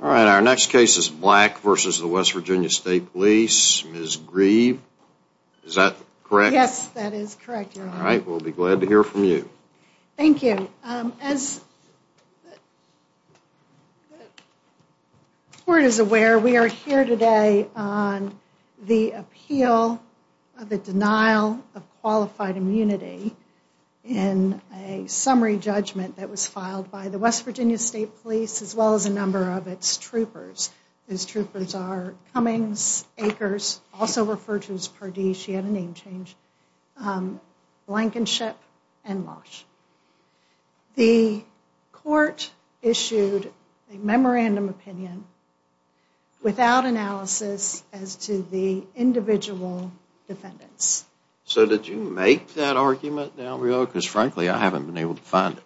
All right, our next case is Black v. West Virginia State Police. Ms. Grieve, is that correct? Yes, that is correct, Your Honor. All right, we'll be glad to hear from you. Thank you. As the Court is aware, we are here today on the appeal of the denial of qualified troopers. These troopers are Cummings, Akers, also referred to as Pardee, she had a name change, Blankenship, and Losh. The Court issued a memorandum opinion without analysis as to the individual defendants. So did you make that argument now, because frankly I haven't been able to find it?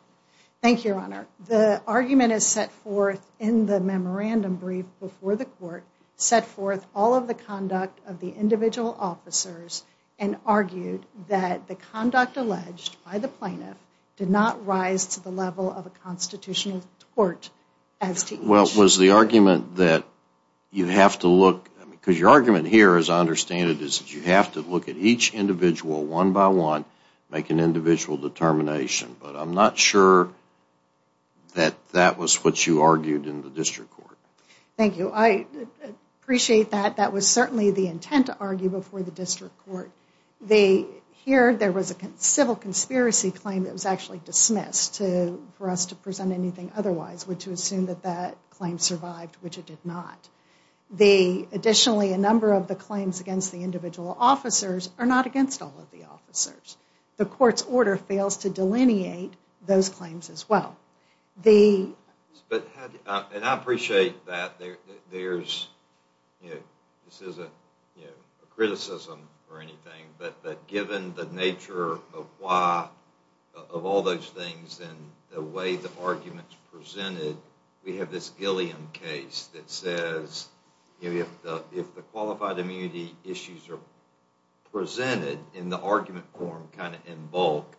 Thank you, Your Honor. The argument is set forth in the memorandum brief before the Court, set forth all of the conduct of the individual officers and argued that the conduct alleged by the plaintiff did not rise to the level of a constitutional court as to each. Well, was the argument that you have to look, because your argument here as I understand it is that you have to look at each individual one by one, make an individual determination, but I'm not sure that that was what you argued in the District Court. Thank you, I appreciate that. That was certainly the intent to argue before the District Court. Here there was a civil conspiracy claim that was actually dismissed for us to present anything otherwise, which would assume that that claim survived, which it did not. Additionally, a number of the claims against the individual officers are not against all of the officers. The Court's order fails to delineate those claims as well. And I appreciate that there's, you know, this isn't, you know, a criticism or anything, but given the nature of why, of all those things, and the way the argument's presented, we have this Gilliam case that says, you know, if the qualified immunity issues are presented in the argument form kind of in bulk,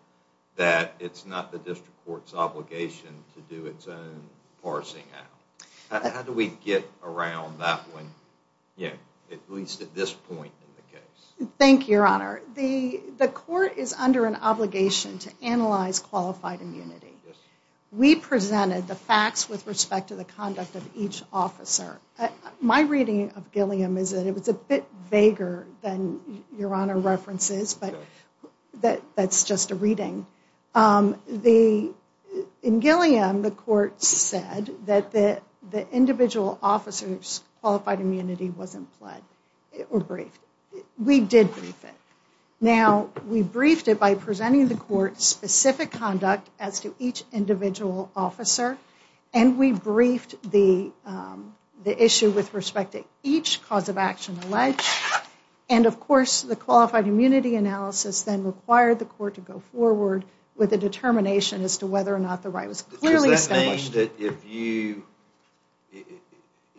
that it's not the District Court's obligation to do its own parsing out. How do we get around that one, you know, at least at this point in the case? Thank you, Your Honor. The Court is under an obligation to analyze qualified immunity. We presented the facts with respect to the conduct of each officer. My reading of Gilliam is that it was a bit vaguer than Your Honor references, but that's just a reading. In Gilliam, the Court said that the individual officer's qualified immunity wasn't pled or briefed. We did brief it. Now, we briefed it by presenting the Court's specific conduct as to each individual officer, and we briefed the issue with respect to each cause of action alleged. And, of course, the qualified immunity analysis then required the Court to go forward with a determination as to whether or not the right was clearly established. Does that mean that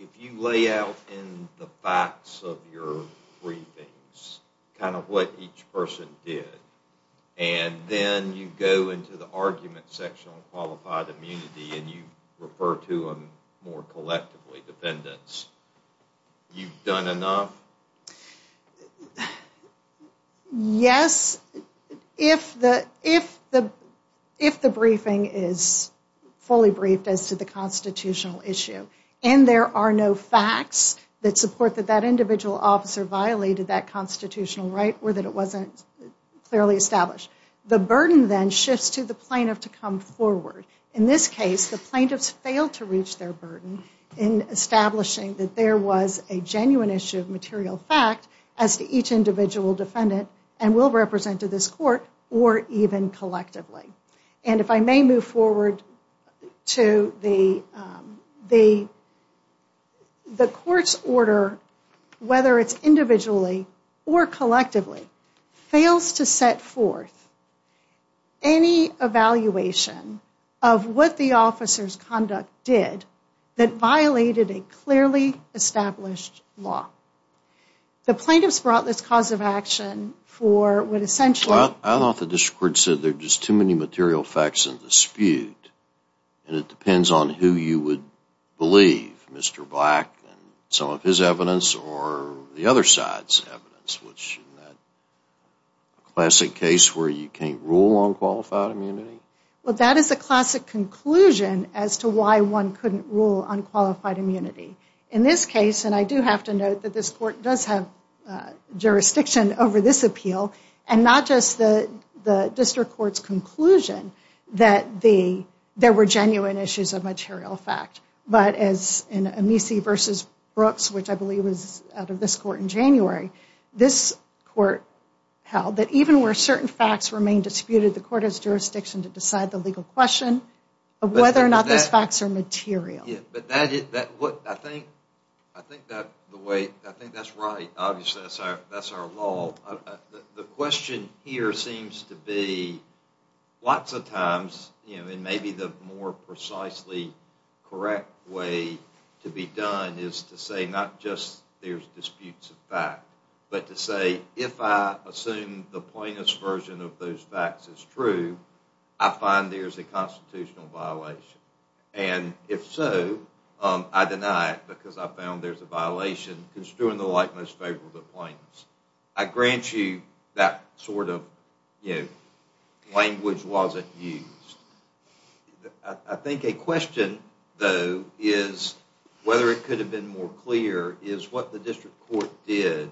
if you lay out in the facts of your briefings kind of what each person did, and then you go into the argument section on qualified immunity and you refer to them more collectively, dependents, you've done enough? Yes, if the briefing is fully briefed as to the constitutional issue, and there are no facts that support that that individual officer violated that constitutional right or that it wasn't clearly established, the burden then shifts to the plaintiff to come forward. In this case, the plaintiffs failed to reach their burden in establishing that there was a genuine issue of material fact as to each individual defendant and will represent to this the Court's order, whether it's individually or collectively, fails to set forth any evaluation of what the officer's conduct did that violated a clearly established law. The plaintiffs brought this cause of action for what essentially... I thought the District Court said there's just many material facts in dispute, and it depends on who you would believe, Mr. Black and some of his evidence or the other side's evidence, which in that classic case where you can't rule on qualified immunity? Well, that is a classic conclusion as to why one couldn't rule on qualified immunity. In this case, and I do have to note that this Court does have jurisdiction over this appeal and not just the District Court's conclusion that there were genuine issues of material fact, but as in Amici v. Brooks, which I believe was out of this Court in January, this Court held that even where certain facts remain disputed, the Court has jurisdiction to decide the legal question of whether or not those facts are material. Yeah, but I think the way... I think that's right. Obviously, that's our law. The question here seems to be lots of times, and maybe the more precisely correct way to be done is to say not just there's disputes of fact, but to say if I assume the plaintiff's version of those facts is true, I find there's a constitutional violation. And if so, I deny it because I found there's a violation construing the like most favorable to plaintiffs. I grant you that sort of language wasn't used. I think a question, though, is whether it could have been more clear is what the District Court did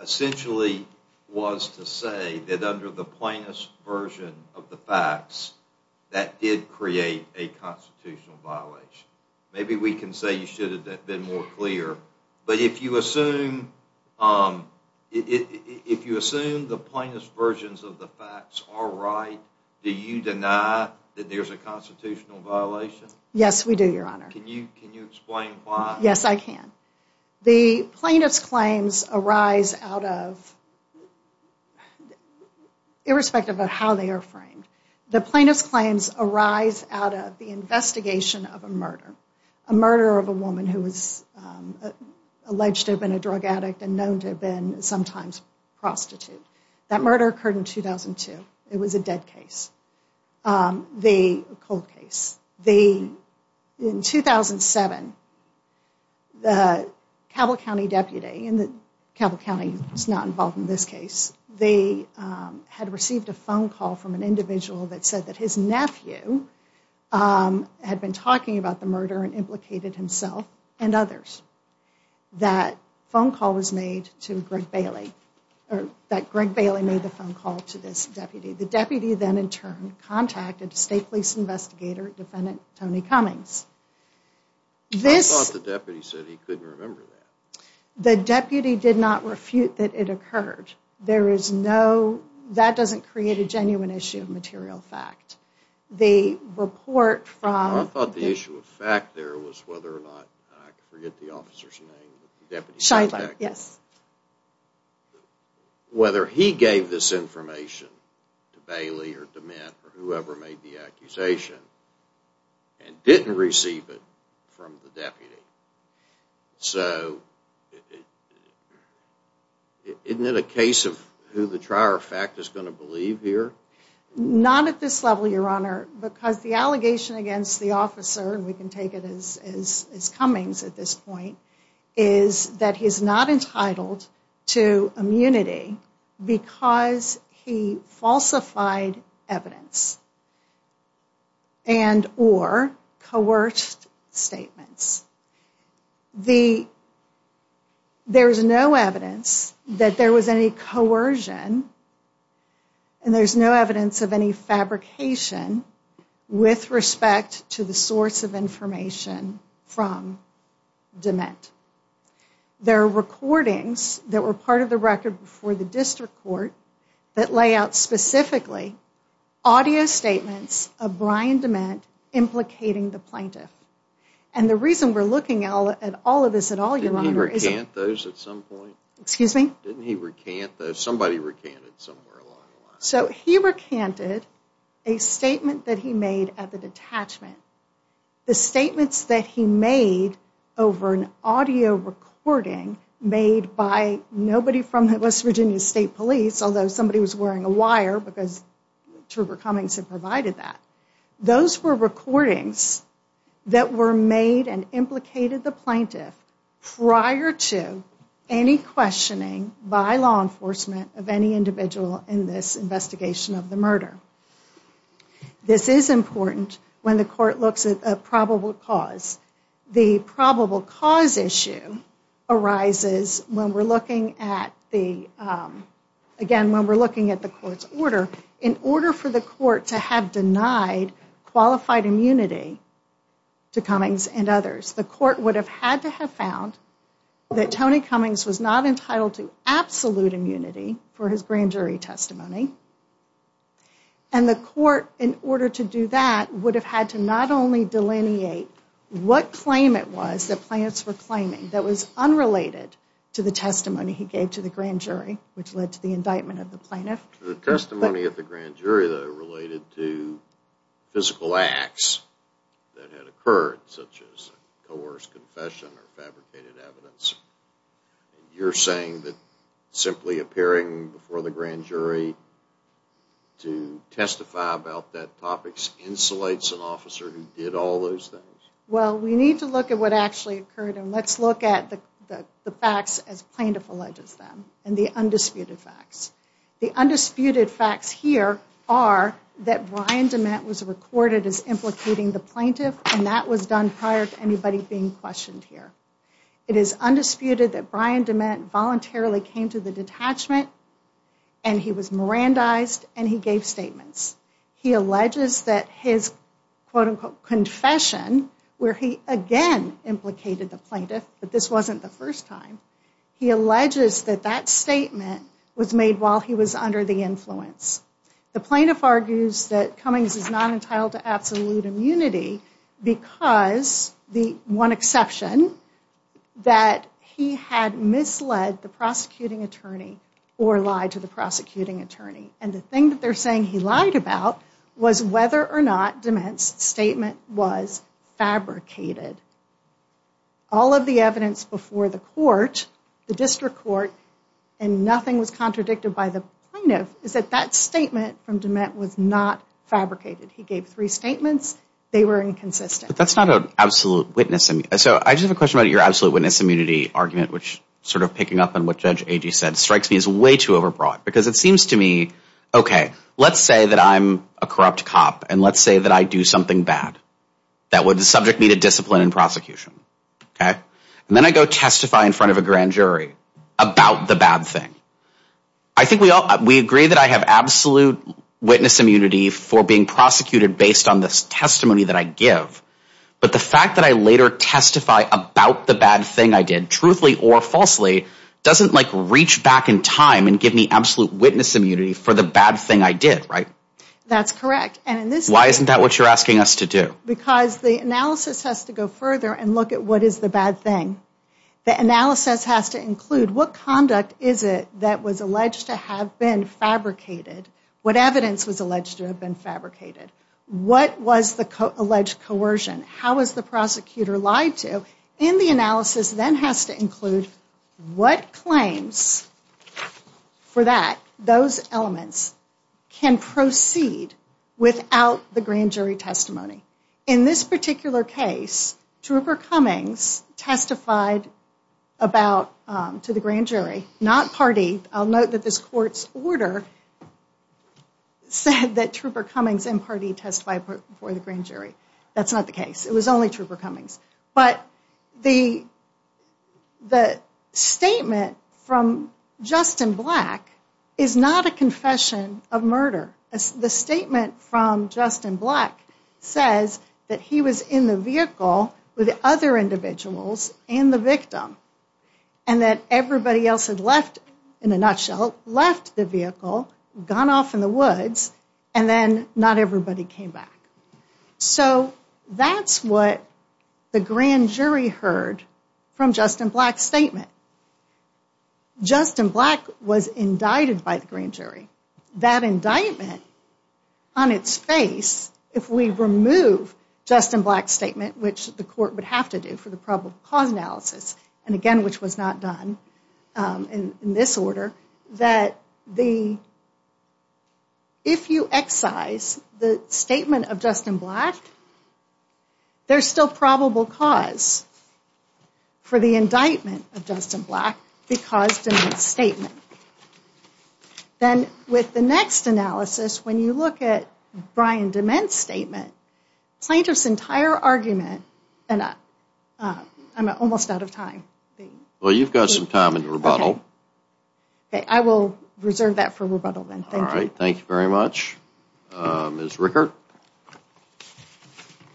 essentially was to say that under the plaintiff's version of the facts, that did create a constitutional violation. Maybe we can say you should have been more clear, but if you assume the plaintiff's versions of the facts are right, do you deny that there's a constitutional violation? Yes, we do, Your Honor. Can you explain why? Yes, I can. The plaintiff's claims arise out of, irrespective of how they are framed, the plaintiff's claims arise out of the investigation of a murder, a murder of a woman who was alleged to have been a drug addict and known to have been sometimes prostitute. That murder occurred in 2002. It was a dead case, a cold case. In 2007, the Cabell County deputy, and Cabell County is not involved in this case, they had received a phone call from an individual that said that his nephew had been talking about the murder and implicated himself and others. That phone call was made to Greg Bailey, or that Greg Bailey made the phone call to this deputy. The deputy then in turn contacted State Police Investigator Defendant Tony Cummings. I thought the deputy said he couldn't remember that. The deputy did not refute that it occurred. That doesn't create a genuine issue of material fact. I thought the issue of fact there was whether or not, I forget the accusation, and didn't receive it from the deputy. So, isn't it a case of who the trier of fact is going to believe here? Not at this level, Your Honor, because the allegation against the officer, and we can take it as Cummings at this point, is that he's not entitled to immunity because he falsified evidence and or coerced statements. There's no evidence that there was any coercion, and there's no evidence of any fabrication with respect to the source of information from DeMint. There are recordings that were part of the record before the district court that lay out specifically audio statements of Brian DeMint implicating the plaintiff, and the reason we're looking at all of this at all, Your Honor, is... Didn't he recant those at some point? Excuse me? Didn't he recant those? Somebody recanted somewhere along the line. So, he recanted a statement that he made at the detachment. The statements that he made over an audio recording made by nobody from the West Virginia State Police, although somebody was wearing a wire because Truber Cummings had provided that, those were recordings that were made and implicated the plaintiff prior to any questioning by law enforcement of any individual in this investigation of the murder. This is important when the court looks at a probable cause. The probable cause issue arises when we're looking at the, again, when we're looking at the court's order. In order for the court to have denied qualified immunity to Cummings and others, the court would have had to have found that Tony Cummings was not entitled to absolute immunity for his grand jury testimony, and the court, in order to do that, would have had to not only delineate what claim it was that plaintiffs were claiming that was unrelated to the testimony he gave to the grand jury, which led to the indictment of the plaintiff. The testimony of the grand jury though related to physical acts that had occurred, such as coerced confession or fabricated evidence. You're saying that simply appearing before the grand jury to testify about that topic insulates an officer who did all those things? Well, we need to look at what actually occurred and let's look at the the facts as plaintiff alleges them and the undisputed facts. The undisputed facts here are that Brian DeMette was recorded as implicating the plaintiff and that was done prior to anybody being questioned here. It is undisputed that Brian DeMette voluntarily came to the detachment and he was mirandized and he gave statements. He alleges that his quote-unquote confession where he again implicated the plaintiff, but this wasn't the first time, he alleges that that statement was made while he was under the influence. The plaintiff argues that Cummings is not entitled to absolute immunity because the one exception that he had misled the prosecuting attorney or lied to the prosecuting attorney and the thing that they're saying he lied about was whether or not DeMette's statement was fabricated. All of the evidence before the court, the district court, and nothing was contradicted by the plaintiff is that that statement from DeMette was not fabricated. He gave three statements, they were inconsistent. But that's not an absolute witness. So I just have a question about your absolute witness immunity argument which sort of picking up on what Judge Agee said strikes me as way too overbroad because it seems to me, okay, let's say that I'm a corrupt cop and let's say that I do something bad that would subject me to discipline in prosecution, okay, and then I go testify in front of a grand jury about the bad thing. I think we all we agree that I have absolute witness immunity for being prosecuted based on this testimony that I give, but the fact that I later testify about the bad thing I did, truthfully or falsely, doesn't like reach back in time and give me absolute witness immunity for the bad thing I did, right? That's correct. Why isn't that what you're asking us to do? Because the analysis has to go further and look at what is the bad thing. The analysis has to include what conduct is it that was alleged to have been fabricated? What evidence was alleged to have been fabricated? What was the alleged coercion? How was the prosecutor lied to? And the analysis then has to include what claims for that those elements can proceed without the grand jury testimony. In this particular case, Trooper Cummings testified about to the grand jury, not Pardee. I'll note that this court's order said that Trooper Cummings and Pardee testified before the grand jury. That's not the case. It was only Trooper Cummings, but the statement from Justin Black is not a confession of murder. The statement from Justin Black says that he was in the vehicle with other individuals and the victim and that everybody else had left, in a nutshell, left the vehicle, gone off in the woods, and then not everybody came back. So that's what the grand jury heard from Justin Black's statement. Justin Black was indicted by the grand jury. That indictment on its face, if we remove Justin Black's statement, which the court would have to do for the probable cause analysis, and again, which was not done in this order, that the, if you excise the statement of Justin Black, there's still probable cause for the indictment of Justin Black because of his statement. Then with the next analysis, when you look at Brian DeMent's statement, plaintiff's entire argument, I'm almost out of time. Well, you've got some time in the rebuttal. I will reserve that for rebuttal then. All right, thank you very much, Ms. Rickert. All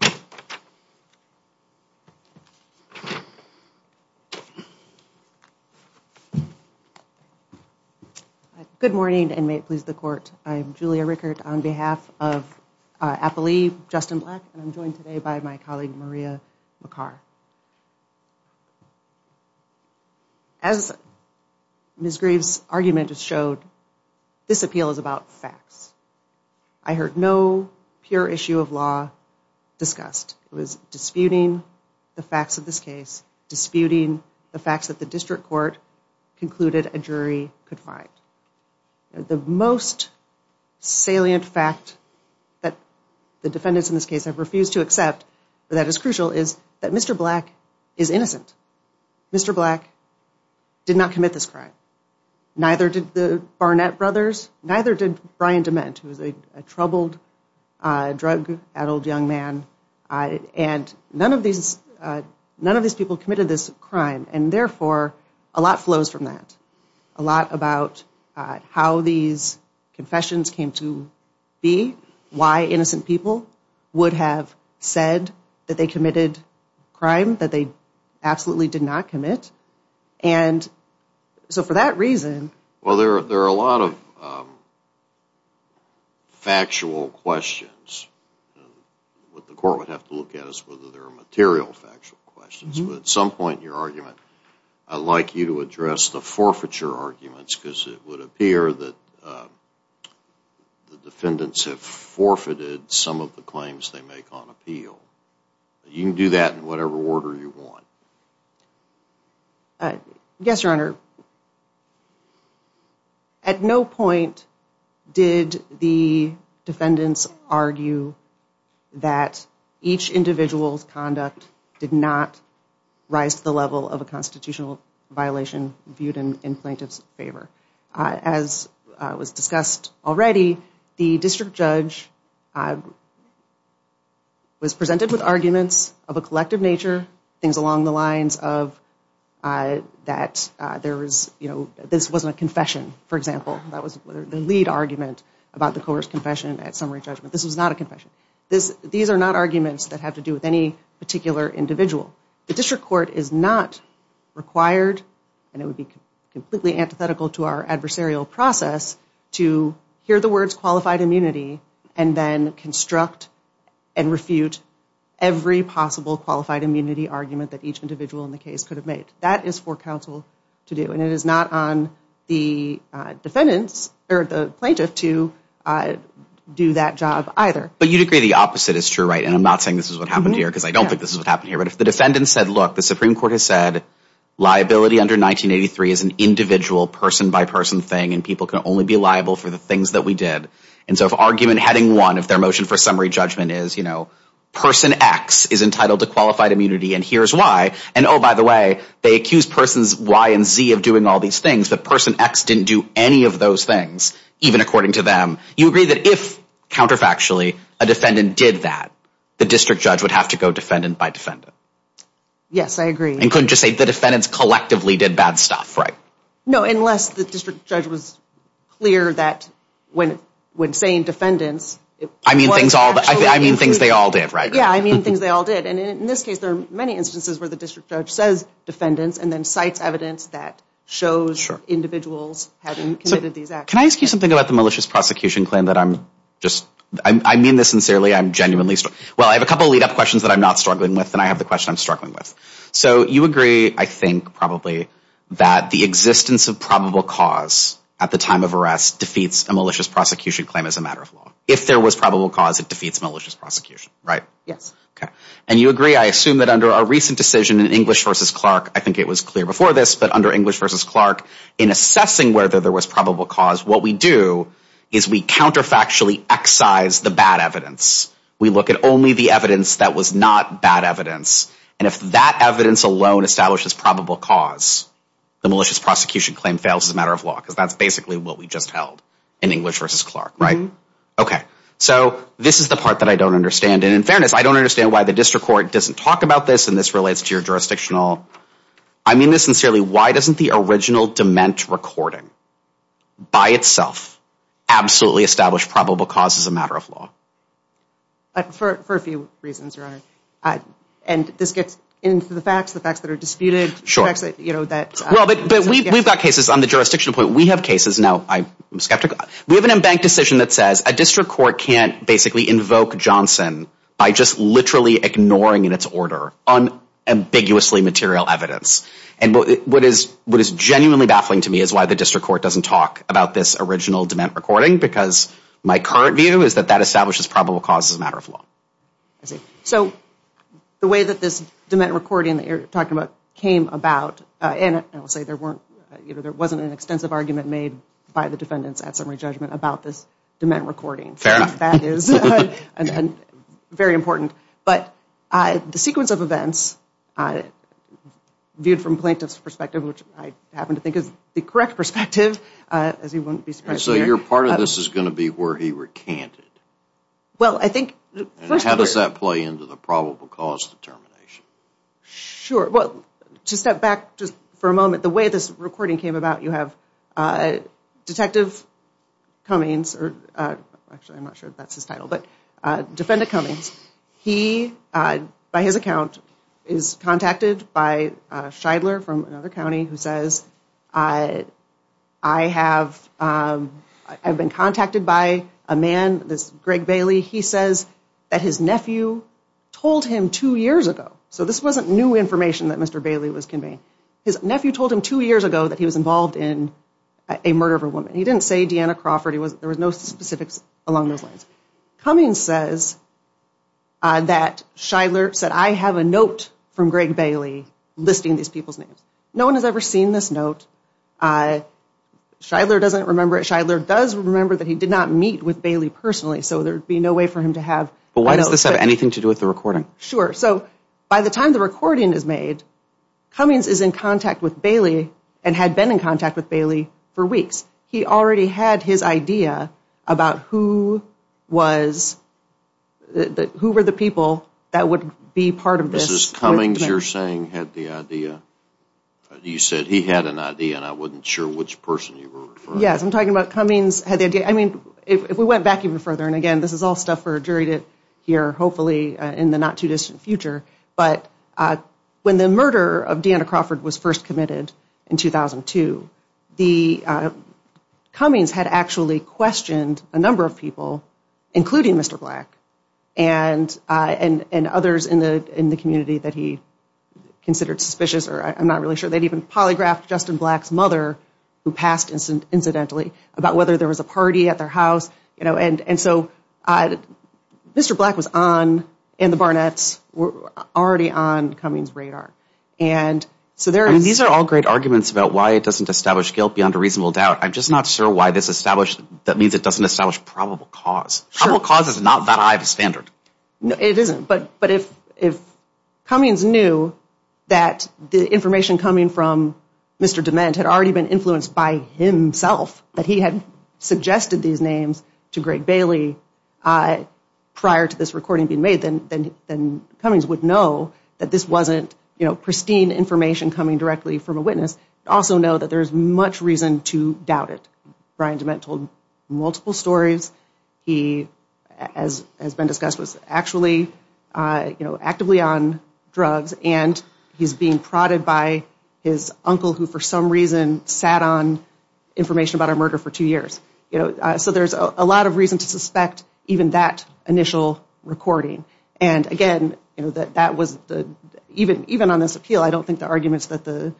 right, good morning, and may it please the court. I'm Julia Rickert on behalf of Appalee Justin Black, and I'm joined today by my colleague, Maria McCar. As Ms. Grieve's argument has showed, this appeal is about facts. I heard no pure issue of law discussed. It was disputing the facts of this case, disputing the facts that the district court concluded a jury could find. The most salient fact that the defendants in this case have refused to is innocent. Mr. Black did not commit this crime. Neither did the Barnett brothers, neither did Brian DeMent, who was a troubled, drug-addled young man, and none of these people committed this crime, and therefore, a lot flows from that. A lot about how these confessions came to be, why innocent people would have said that they committed a crime that they absolutely did not commit, and so for that reason... Well, there are a lot of factual questions. What the court would have to look at is whether there are material factual questions, but at some point in your argument, I'd like you to address the forfeiture arguments, because it would appear that the defendants have forfeited some of the claims they make on appeal. You can do that in whatever order you want. Yes, your honor. At no point did the defendants argue that each individual's conduct did not rise to the level of a constitutional violation viewed in plaintiff's favor. As was discussed already, the district judge was presented with arguments of a collective nature, things along the lines of that this wasn't a confession, for example. That was the lead argument about the coerced confession at summary judgment. This was not a confession. These are not particular individuals. The district court is not required, and it would be completely antithetical to our adversarial process, to hear the words qualified immunity and then construct and refute every possible qualified immunity argument that each individual in the case could have made. That is for counsel to do, and it is not on the plaintiff to do that job either. But you'd agree the opposite is true, right? And I'm not saying this is what happened here, but if the defendant said, look, the Supreme Court has said liability under 1983 is an individual person-by-person thing, and people can only be liable for the things that we did. And so if argument heading one of their motion for summary judgment is, you know, person X is entitled to qualified immunity, and here's why. And oh, by the way, they accuse persons Y and Z of doing all these things, but person X didn't do any of those things, even according to them. You agree that if, counterfactually, a defendant did that, the district judge would have to go defendant-by-defendant? Yes, I agree. And couldn't just say the defendants collectively did bad stuff, right? No, unless the district judge was clear that when saying defendants... I mean things they all did, right? Yeah, I mean things they all did. And in this case, there are many instances where the district judge says defendants and then cites evidence that shows individuals having committed these actions. Can I ask you something about the malicious prosecution claim that I'm just... I mean this sincerely, I'm genuinely... Well, I have a couple lead-up questions that I'm not struggling with, and I have the question I'm struggling with. So you agree, I think, probably, that the existence of probable cause at the time of arrest defeats a malicious prosecution claim as a matter of law. If there was probable cause, it defeats malicious prosecution, right? Yes. Okay. And you agree, I assume, that under a recent decision in English v. Clark, I think it was clear before this, but under English v. Clark, in assessing whether there was probable cause, what we do is we counterfactually excise the bad evidence. We look at only the evidence that was not bad evidence, and if that evidence alone establishes probable cause, the malicious prosecution claim fails as a matter of law, because that's basically what we just held in English v. Clark, right? Okay. So this is the part that I don't understand, and in fairness, I don't understand why the district court doesn't talk about this, and this relates to your jurisdictional... I mean this sincerely, why doesn't the original dement recording, by itself, absolutely establish probable cause as a matter of law? For a few reasons, Your Honor, and this gets into the facts, the facts that are disputed, the facts that, you know, that... Well, but we've got cases on the jurisdictional point. We have cases now, I'm skeptical, we have an embanked decision that says a district court can't basically invoke Johnson by just literally ignoring in its order unambiguously material evidence, and what is what is genuinely baffling to me is why the district court doesn't talk about this original dement recording, because my current view is that that establishes probable cause as a matter of law. I see. So the way that this dement recording that you're talking about came about, and I will say there weren't, you know, there wasn't an extensive argument made by the defendants at summary judgment about this dement recording. Fair enough. That is and very important, but the sequence of events viewed from plaintiff's perspective, which I happen to think is the correct perspective, as you wouldn't be surprised. So your part of this is going to be where he recanted? Well, I think... How does that play into the probable cause determination? Sure, well, to step back just for a moment, the way this recording came about, you defendant Cummings, he, by his account, is contacted by Shidler from another county who says, I have, I've been contacted by a man, this Greg Bailey, he says that his nephew told him two years ago. So this wasn't new information that Mr. Bailey was conveying. His nephew told him two years ago that he was involved in a murder of a woman. He didn't say Deanna Crawford. He was, there was no specifics along those lines. Cummings says that Shidler said, I have a note from Greg Bailey listing these people's names. No one has ever seen this note. Shidler doesn't remember it. Shidler does remember that he did not meet with Bailey personally. So there'd be no way for him to have... But why does this have anything to do with the recording? Sure. So by the time the recording is made, Cummings is in contact with Bailey and had been in contact with Bailey for weeks. He already had his idea about who was, who were the people that would be part of this. Mrs. Cummings, you're saying, had the idea? You said he had an idea and I wasn't sure which person you were referring to. Yes, I'm talking about Cummings had the idea. I mean, if we went back even further, and again, this is all stuff for a jury to hear hopefully in the not too distant future, but when the murder of Deanna the Cummings had actually questioned a number of people, including Mr. Black and others in the community that he considered suspicious or I'm not really sure they'd even polygraphed Justin Black's mother who passed incidentally about whether there was a party at their house, you know, and so Mr. Black was on in the Barnett's were already on Cummings radar. And so there are, these are all great arguments about why it doesn't establish guilt beyond a reasonable doubt. I'm just not sure why this established, that means it doesn't establish probable cause. Probable cause is not that high of a standard. No, it isn't. But, but if, if Cummings knew that the information coming from Mr. DeMent had already been influenced by himself, that he had suggested these names to Greg Bailey prior to this recording being made, then, then Cummings would know that this wasn't, you know, pristine information coming directly from a witness. Also know that there's much reason to doubt it. Brian DeMent told multiple stories. He, as has been discussed, was actually, you know, actively on drugs and he's being prodded by his uncle who for some reason sat on information about a murder for two years. You know, so there's a lot of reason to suspect even that initial recording. And again, you know, that, that was even, even on this appeal, I don't think the arguments that the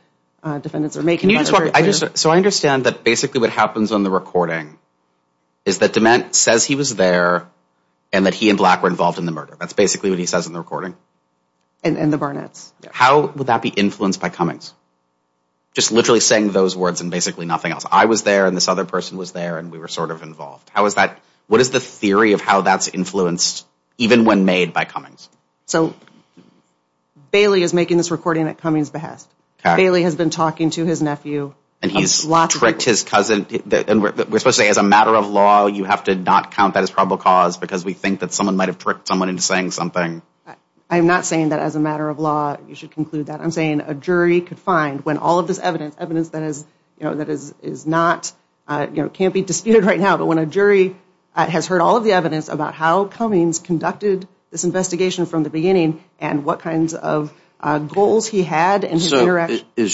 defendants are making. Can you just, so I understand that basically what happens on the recording is that DeMent says he was there and that he and Black were involved in the murder. That's basically what he says in the recording. And in the Barnett's. How would that be influenced by Cummings? Just literally saying those words and basically nothing else. I was there and this other person was there and we were sort of involved. How was that? What is the theory of how that's influenced even when made by Cummings? So Bailey is making this recording at Cummings' behest. Bailey has been talking to his nephew. And he's tricked his cousin. We're supposed to say as a matter of law, you have to not count that as probable cause because we think that someone might've tricked someone into saying something. I'm not saying that as a matter of law, you should conclude that. I'm saying a jury could not be disputed right now. But when a jury has heard all of the evidence about how Cummings conducted this investigation from the beginning and what kinds of goals he had. Is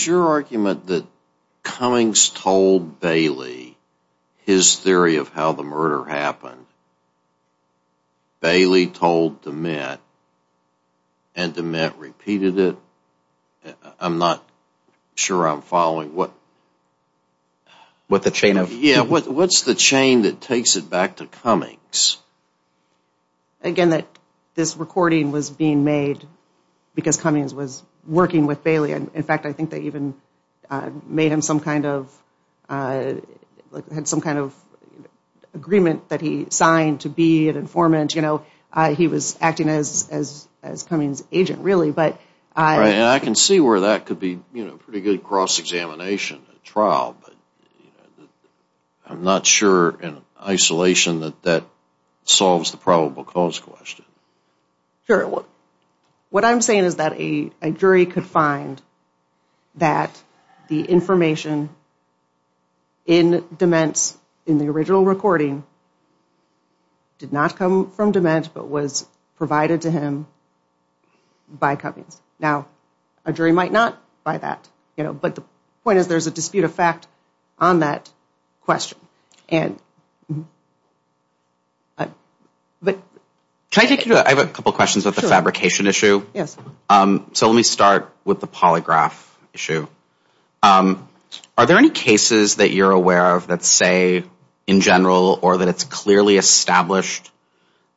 your argument that Cummings told Bailey his theory of how the murder happened? Bailey told DeMent and DeMent repeated it? I'm not sure I'm following. What's the chain that takes it back to Cummings? Again, this recording was being made because Cummings was working with Bailey. In fact, I think they even made him some kind of, had some kind of agreement that he signed to be an informant. He was acting as Cummings' agent really. I can see where that could be a pretty good cross-examination trial, but I'm not sure in isolation that that solves the probable cause question. Sure. What I'm saying is that a jury could find that the information in DeMent's, in the original recording, did not come from DeMent but was provided to him by Cummings. Now, a jury might not buy that, you know, but the point is there's a dispute of fact on that question. Can I take you to, I have a couple questions about the fabrication issue. Yes. So let me start with the polygraph issue. Are there any cases that you're aware of that say, in general, or that it's clearly established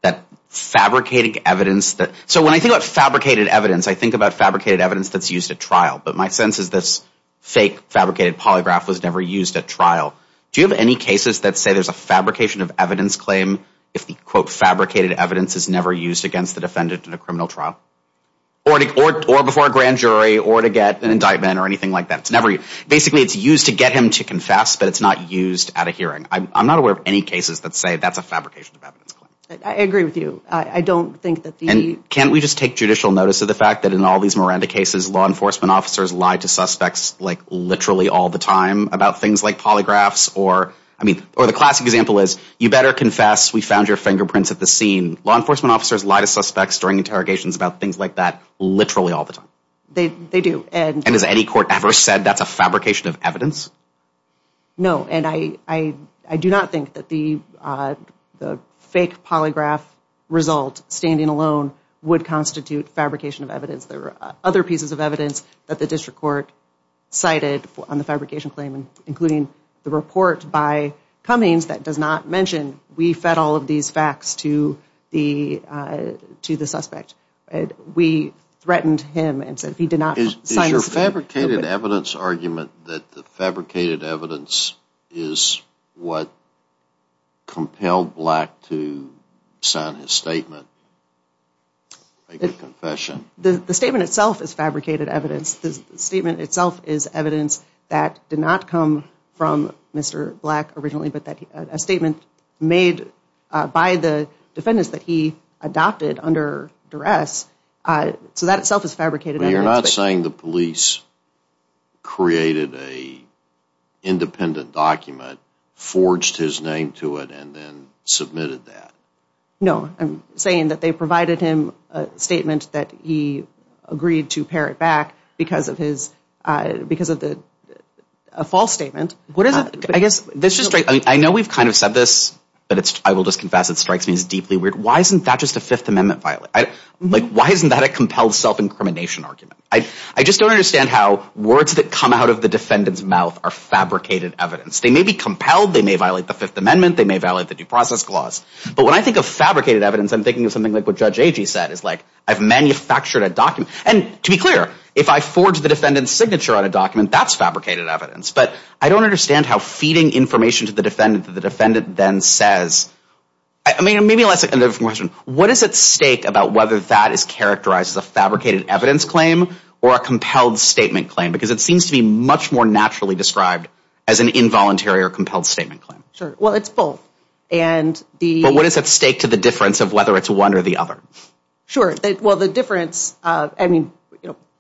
that fabricated evidence that, so when I think about fabricated evidence, I think about fabricated evidence that's used at trial, but my sense is this fake fabricated polygraph was never used at trial. Do you have any cases that say there's a fabrication of evidence claim if the, quote, fabricated evidence is never used against the defendant in a criminal trial? Or before a grand ban or anything like that. It's never, basically it's used to get him to confess, but it's not used at a hearing. I'm not aware of any cases that say that's a fabrication of evidence claim. I agree with you. I don't think that the... And can't we just take judicial notice of the fact that in all these Miranda cases, law enforcement officers lie to suspects like literally all the time about things like polygraphs or, I mean, or the classic example is, you better confess, we found your fingerprints at the scene. Law enforcement officers lie to suspects during interrogations about things like that literally all the time. They do. And has any court ever said that's a fabrication of evidence? No. And I do not think that the fake polygraph result standing alone would constitute fabrication of evidence. There were other pieces of evidence that the district court cited on the fabrication claim, including the report by Cummings that does not mention we fed all of these facts to the suspect. We threatened him and said if he did not... Is your fabricated evidence argument that the fabricated evidence is what compelled Black to sign his statement, make a confession? The statement itself is fabricated evidence. The statement itself is evidence that did not come from Mr. Black originally, but that a statement made by the defendants that he adopted under duress. So that itself is fabricated evidence. But you're not saying the police created a independent document, forged his name to it, and then submitted that? No. I'm saying that they provided him a statement that he agreed to parrot back because of his, because of the, a false statement. What is it? I guess this is... I know we've kind of said this, but it's, I will just confess it strikes me as deeply weird. Why isn't that just a Fifth Amendment violation? Why isn't that a compelled self-incrimination argument? I just don't understand how words that come out of the defendant's mouth are fabricated evidence. They may be compelled. They may violate the Fifth Amendment. They may violate the due process clause. But when I think of fabricated evidence, I'm thinking of something like what Judge Agee said is like, I've manufactured a document. And to be clear, if I forged the defendant's signature on a document, that's fabricated evidence. But I don't understand how feeding information to the defendant that the defendant then says, I mean, maybe let's ask another question. What is at stake about whether that is characterized as a fabricated evidence claim or a compelled statement claim? Because it seems to be much more naturally described as an involuntary or compelled statement claim. Sure. Well, it's both. And the... But what is at stake to the difference of whether it's one or the other? Sure. Well, the difference, I mean,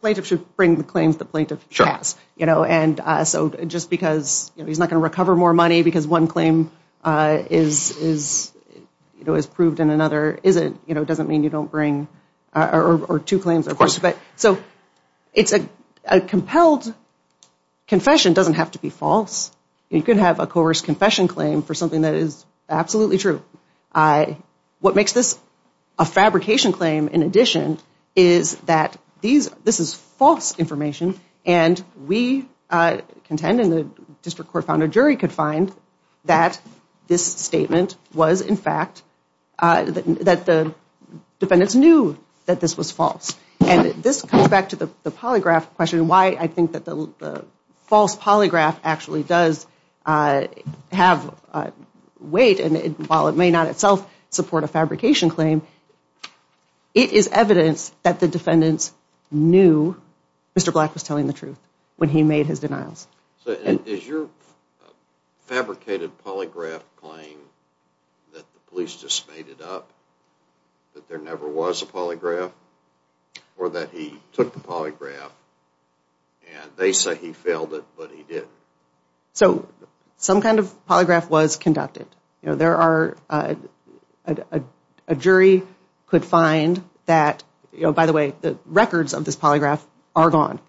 plaintiff should bring the claims the plaintiff has, you know, and so just because he's not going to recover more money because one claim is, you know, is proved and another isn't, you know, doesn't mean you don't bring or two claims, of course. But so it's a compelled confession doesn't have to be false. You can have a coerced confession claim for something that is absolutely true. What makes this a fabrication claim, in addition, is that this is false information. And we contend in the district court found a jury could find that this statement was, in fact, that the defendants knew that this was false. And this comes back to the polygraph question, why I think that the false polygraph actually does have weight and while it may not itself support a fabrication claim, it is evidence that the defendants knew Mr. Black was telling the truth when he made his denials. So is your fabricated polygraph claim that the police just made it up, that there never was a polygraph or that he took the polygraph and they said he failed it, but he didn't. So some kind of polygraph was conducted. There are a jury could find that, by the way, the records of this polygraph are gone.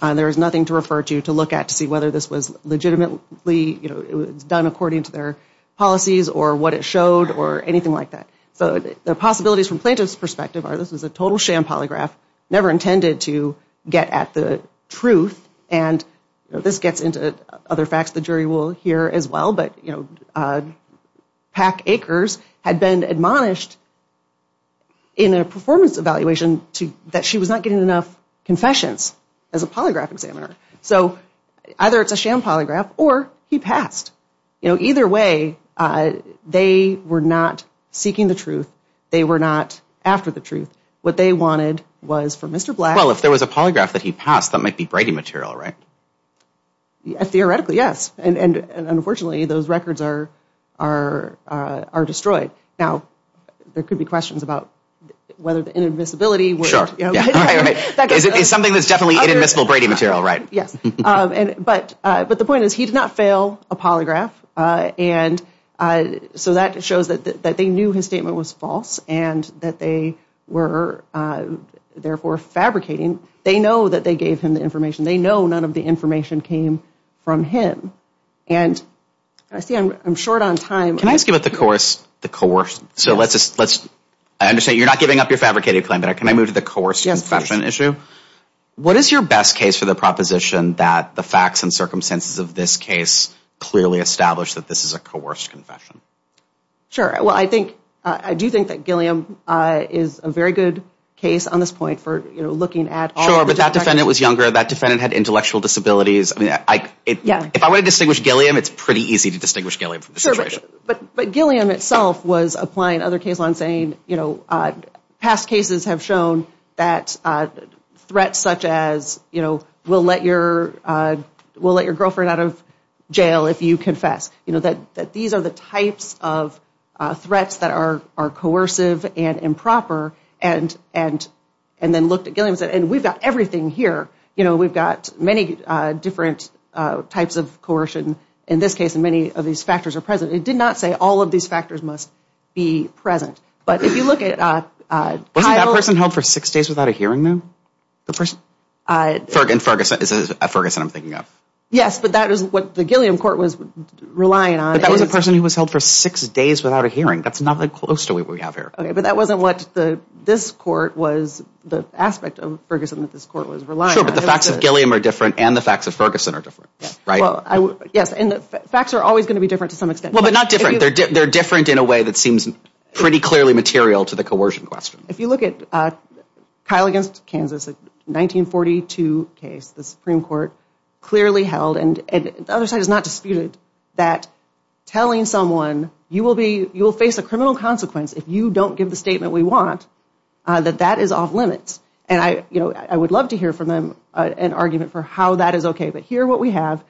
There is nothing to refer to to look at to see whether this was legitimately, you know, it was done according to their policies or what it showed or anything like that. So the possibilities from plaintiff's perspective are this is a total sham polygraph, never intended to get at the truth. And this gets into other facts the jury will hear as well. But, you know, Pack Acres had been admonished in a performance evaluation that she was not getting enough confessions as a polygraph examiner. So either it's a sham polygraph or he passed. You know, either way, they were not seeking the truth. They were not after the truth. What they wanted was for Mr. Black. Well, if there was a polygraph that he passed, that might be Brady material, right? Theoretically, yes. And unfortunately, those records are destroyed. Now, there could be questions about whether the inadmissibility. Sure. It's something that's definitely inadmissible Brady material, right? Yes. But the point is he did not fail a polygraph. And so that shows that they knew his statement was false and that they were therefore fabricating. They know that they gave him the information. They know none of the information came from him. And I see I'm short on time. Can I ask you about the coerced, the coerced? So let's just, let's, I understand you're not giving up your fabricated claim, but can I move to the coerced confession issue? What is your best case for the proposition that the facts and circumstances of this case clearly established that this is a coerced confession? Sure. Well, I think, I do think that Gilliam is a very good case on this point for, you know, looking at. Sure, but that defendant was younger. That defendant had intellectual disabilities. I mean, I, if I want to distinguish Gilliam, it's pretty easy to distinguish Gilliam from the situation. But, but Gilliam itself was applying other case law and saying, you know, past cases have shown that threats such as, you know, we'll let your, we'll let your girlfriend out of jail if you confess, you know, that, that these are the types of threats that are, are coercive and improper. And, and, and then looked at Gilliam and said, and we've got everything here. You know, we've got many different types of coercion in this case, and many of these factors are present. It did not say all of these factors must be present. But if you look at Kyle... Wasn't that person held for six days without a hearing, though? The person? In Ferguson, at Ferguson I'm thinking of. Yes, but that is what the Gilliam court was relying on. But that was a person who was held for six days without a hearing. That's not that close to what we have here. Okay, but that wasn't what the, this court was, the aspect of Ferguson that this court was relying on. But the facts of Gilliam are different and the facts of Ferguson are different, right? Yes, and the facts are always going to be different to some extent. Well, but not different. They're different in a way that seems pretty clearly material to the coercion question. If you look at Kyle against Kansas, a 1942 case, the Supreme Court clearly held, and the other side is not disputed, that telling someone you will be, you will face a criminal consequence if you don't give the statement we want, that that is off limits. And I, you know, I would love to hear from them an argument for how that is okay. But here what we have,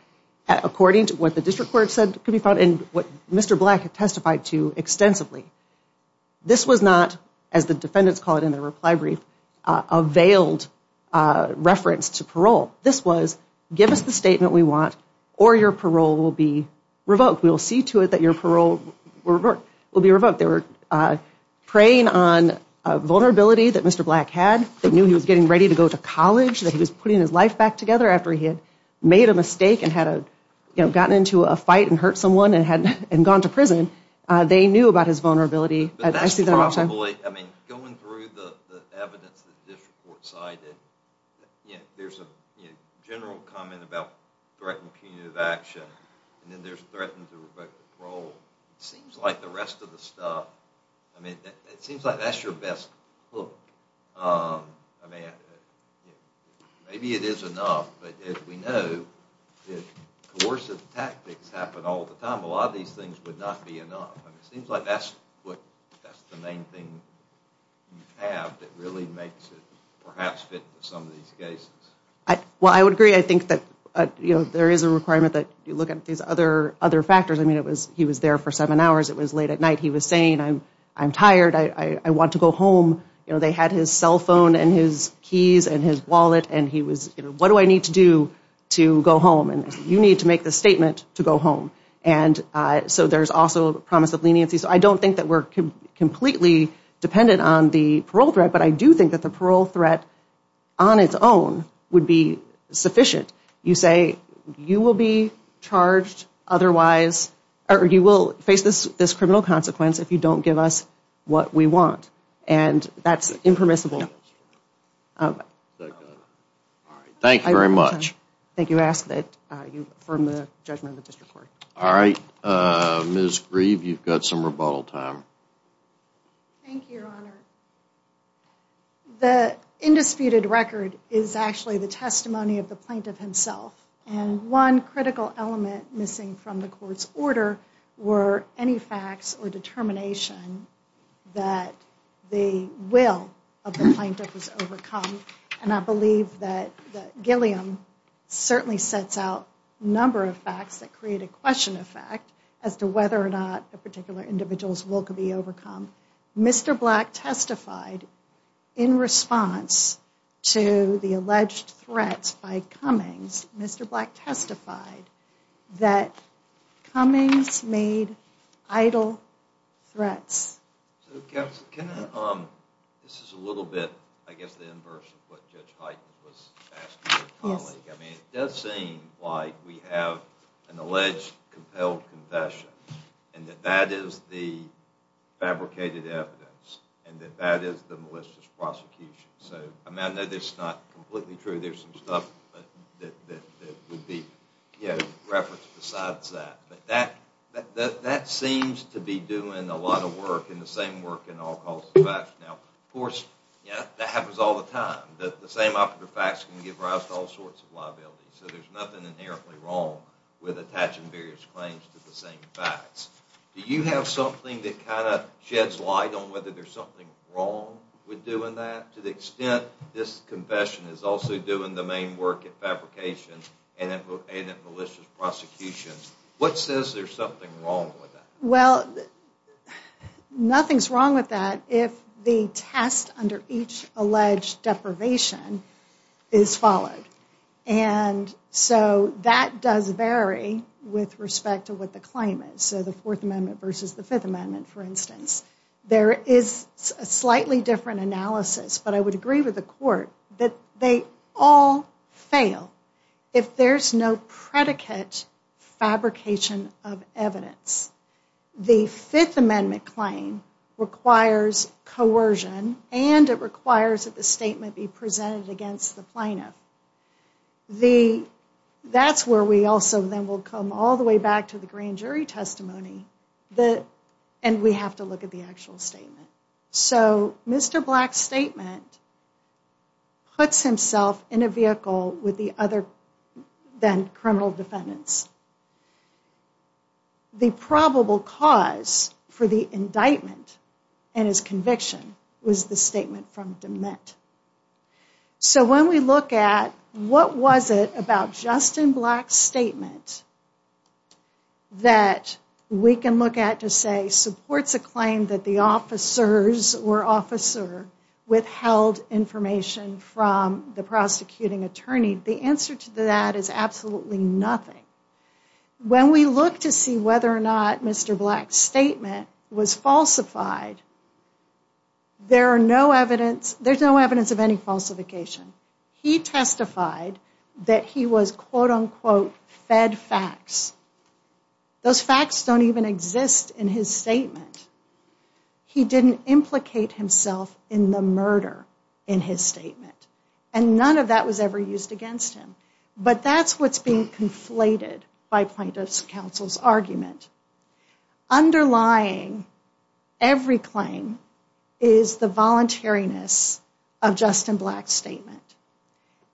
according to what the district court said could be found, and what Mr. Black testified to extensively, this was not, as the defendants call it in their reply brief, a veiled reference to parole. This was, give us the statement we want or your parole will be revoked. We will see to it that your parole will be revoked. They were preying on a vulnerability that Mr. Black had, that knew he was getting ready to go to college, that he was putting his life back together after he had made a mistake and had a, you know, gotten into a fight and hurt someone and gone to prison. They knew about his vulnerability. But that's probably, I mean, going through the evidence that the district court cited, there's a general comment about threatened punitive action, and then there's threatened to revoke parole. It seems like the rest of the stuff, I mean, it seems like that's your best hook. I mean, maybe it is enough, but as we know, if coercive tactics happen all the time, a lot of these things would not be enough. And it seems like that's what, that's the main thing you have that really makes it perhaps fit with some of these cases. Well, I would agree. I think that, you know, there is a requirement that you look at these other factors. I mean, he was there for seven hours. It was late at night. He was saying, I'm tired. I want to go home. You know, they had his cell phone and his keys and his wallet, and he was, you know, what do I need to do to go home? And you need to make the statement to go home. And so there's also promise of leniency. So I don't think that we're completely dependent on the parole threat, but I do think that the parole threat on its own would be sufficient. You say, you will be charged otherwise, or you will face this criminal consequence if you don't give us what we want. And that's impermissible. Thank you very much. Thank you. I ask that you affirm the judgment of the district court. All right, Ms. Grieve, you've got some rebuttal time. Thank you, Your Honor. The indisputed record is actually the testimony of the plaintiff himself. And one critical element missing from the court's order were any facts or determination that the will of the plaintiff was overcome. And I believe that Gilliam certainly sets out a number of facts that create a question of fact as to whether or not a particular individual's will could be overcome. Mr. Black testified in response to the alleged threats by Cummings, Mr. Black testified that Cummings made idle threats. So counsel, can I, this is a little bit, I guess the inverse of what Judge Hyten was asking her colleague. I mean, it does seem like we have an alleged compelled confession and that that is the fabricated evidence and that that is the malicious prosecution. So I know this is not completely true. There's some stuff that would be referenced besides that. But that seems to be doing a lot of work and the same work in all causes of action. Now, of course, that happens all the time. The same operative facts can give rise to all sorts of liabilities. So there's nothing inherently wrong with attaching various claims to the same facts. Do you have something that kind of sheds light on whether there's something wrong with doing that? To the extent this confession is also doing the main work at fabrication and at malicious prosecution. What says there's something wrong with that? Well, nothing's wrong with that if the test under each alleged deprivation is followed. And so that does vary with respect to what the claim is. So the Fourth Amendment versus the Fifth Amendment, for instance. There is a slightly different analysis. But I would agree with the court that they all fail if there's no predicate fabrication of evidence. The Fifth Amendment claim requires coercion and it requires that the statement be presented against the plaintiff. The that's where we also then will come all the way back to the grand jury testimony. And we have to look at the actual statement. So Mr. Black's statement puts himself in a vehicle with the other than criminal defendants. The probable cause for the indictment and his conviction was the statement from dement. So when we look at what was it about Justin Black's statement that we can look at to say supports a claim that the officers or officer withheld information from the prosecuting attorney. The answer to that is absolutely nothing. When we look to see whether or not Mr. Black's statement was falsified, there's no evidence of any falsification. He testified that he was, quote unquote, fed facts. Those facts don't even exist in his statement. He didn't implicate himself in the murder in his statement. And none of that was ever used against him. But that's what's being conflated by plaintiff's counsel's argument. Underlying every claim is the voluntariness of Justin Black's statement.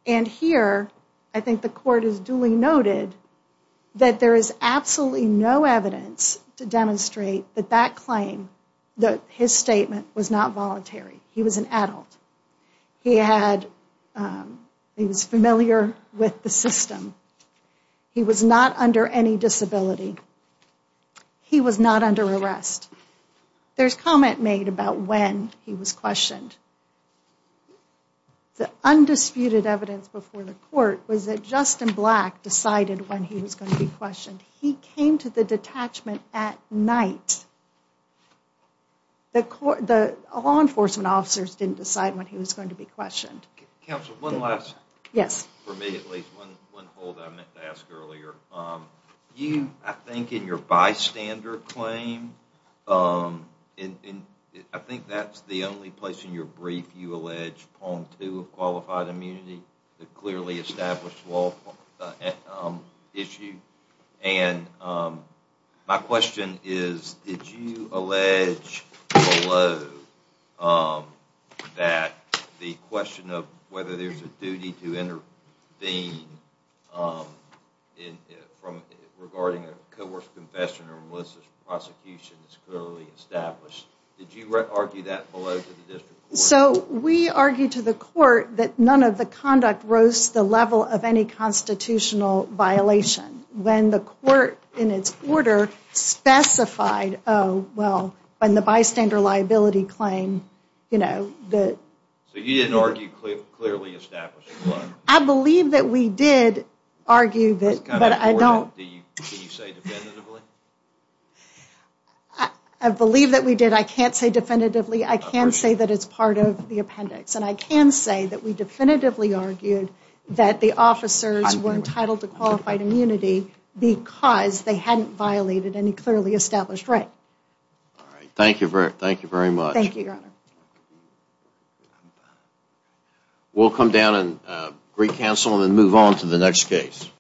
And here, I think the court is duly noted that there is absolutely no evidence to demonstrate that that claim, that his statement was not voluntary. He was an adult. He had, he was familiar with the system. He was not under any disability. He was not under arrest. There's comment made about when he was questioned. The undisputed evidence before the court was that Justin Black decided when he was going to be questioned. He came to the detachment at night. The law enforcement officers didn't decide when he was going to be questioned. Counsel, one last thing. Yes. For me at least, one hold I meant to ask earlier. You, I think in your bystander claim, I think that's the only place in your brief you allege point two of qualified immunity that clearly established law issue. And my question is, did you allege below that the question of whether there's a duty to intervene regarding a coerced confession or malicious prosecution is clearly established. Did you argue that below to the district court? So, we argued to the court that none of the conduct rose to the level of any constitutional violation. When the court, in its order, specified, oh, well, when the bystander liability claim, you know, that. So, you didn't argue clearly establishing law? I believe that we did argue that, but I don't. Can you say definitively? I believe that we did. I can't say definitively. I can say that it's part of the appendix. And I can say that we definitively argued that the officers were entitled to qualified immunity because they hadn't violated any clearly established right. All right. Thank you. Thank you very much. Thank you, your honor. We'll come down and recancel and move on to the next case.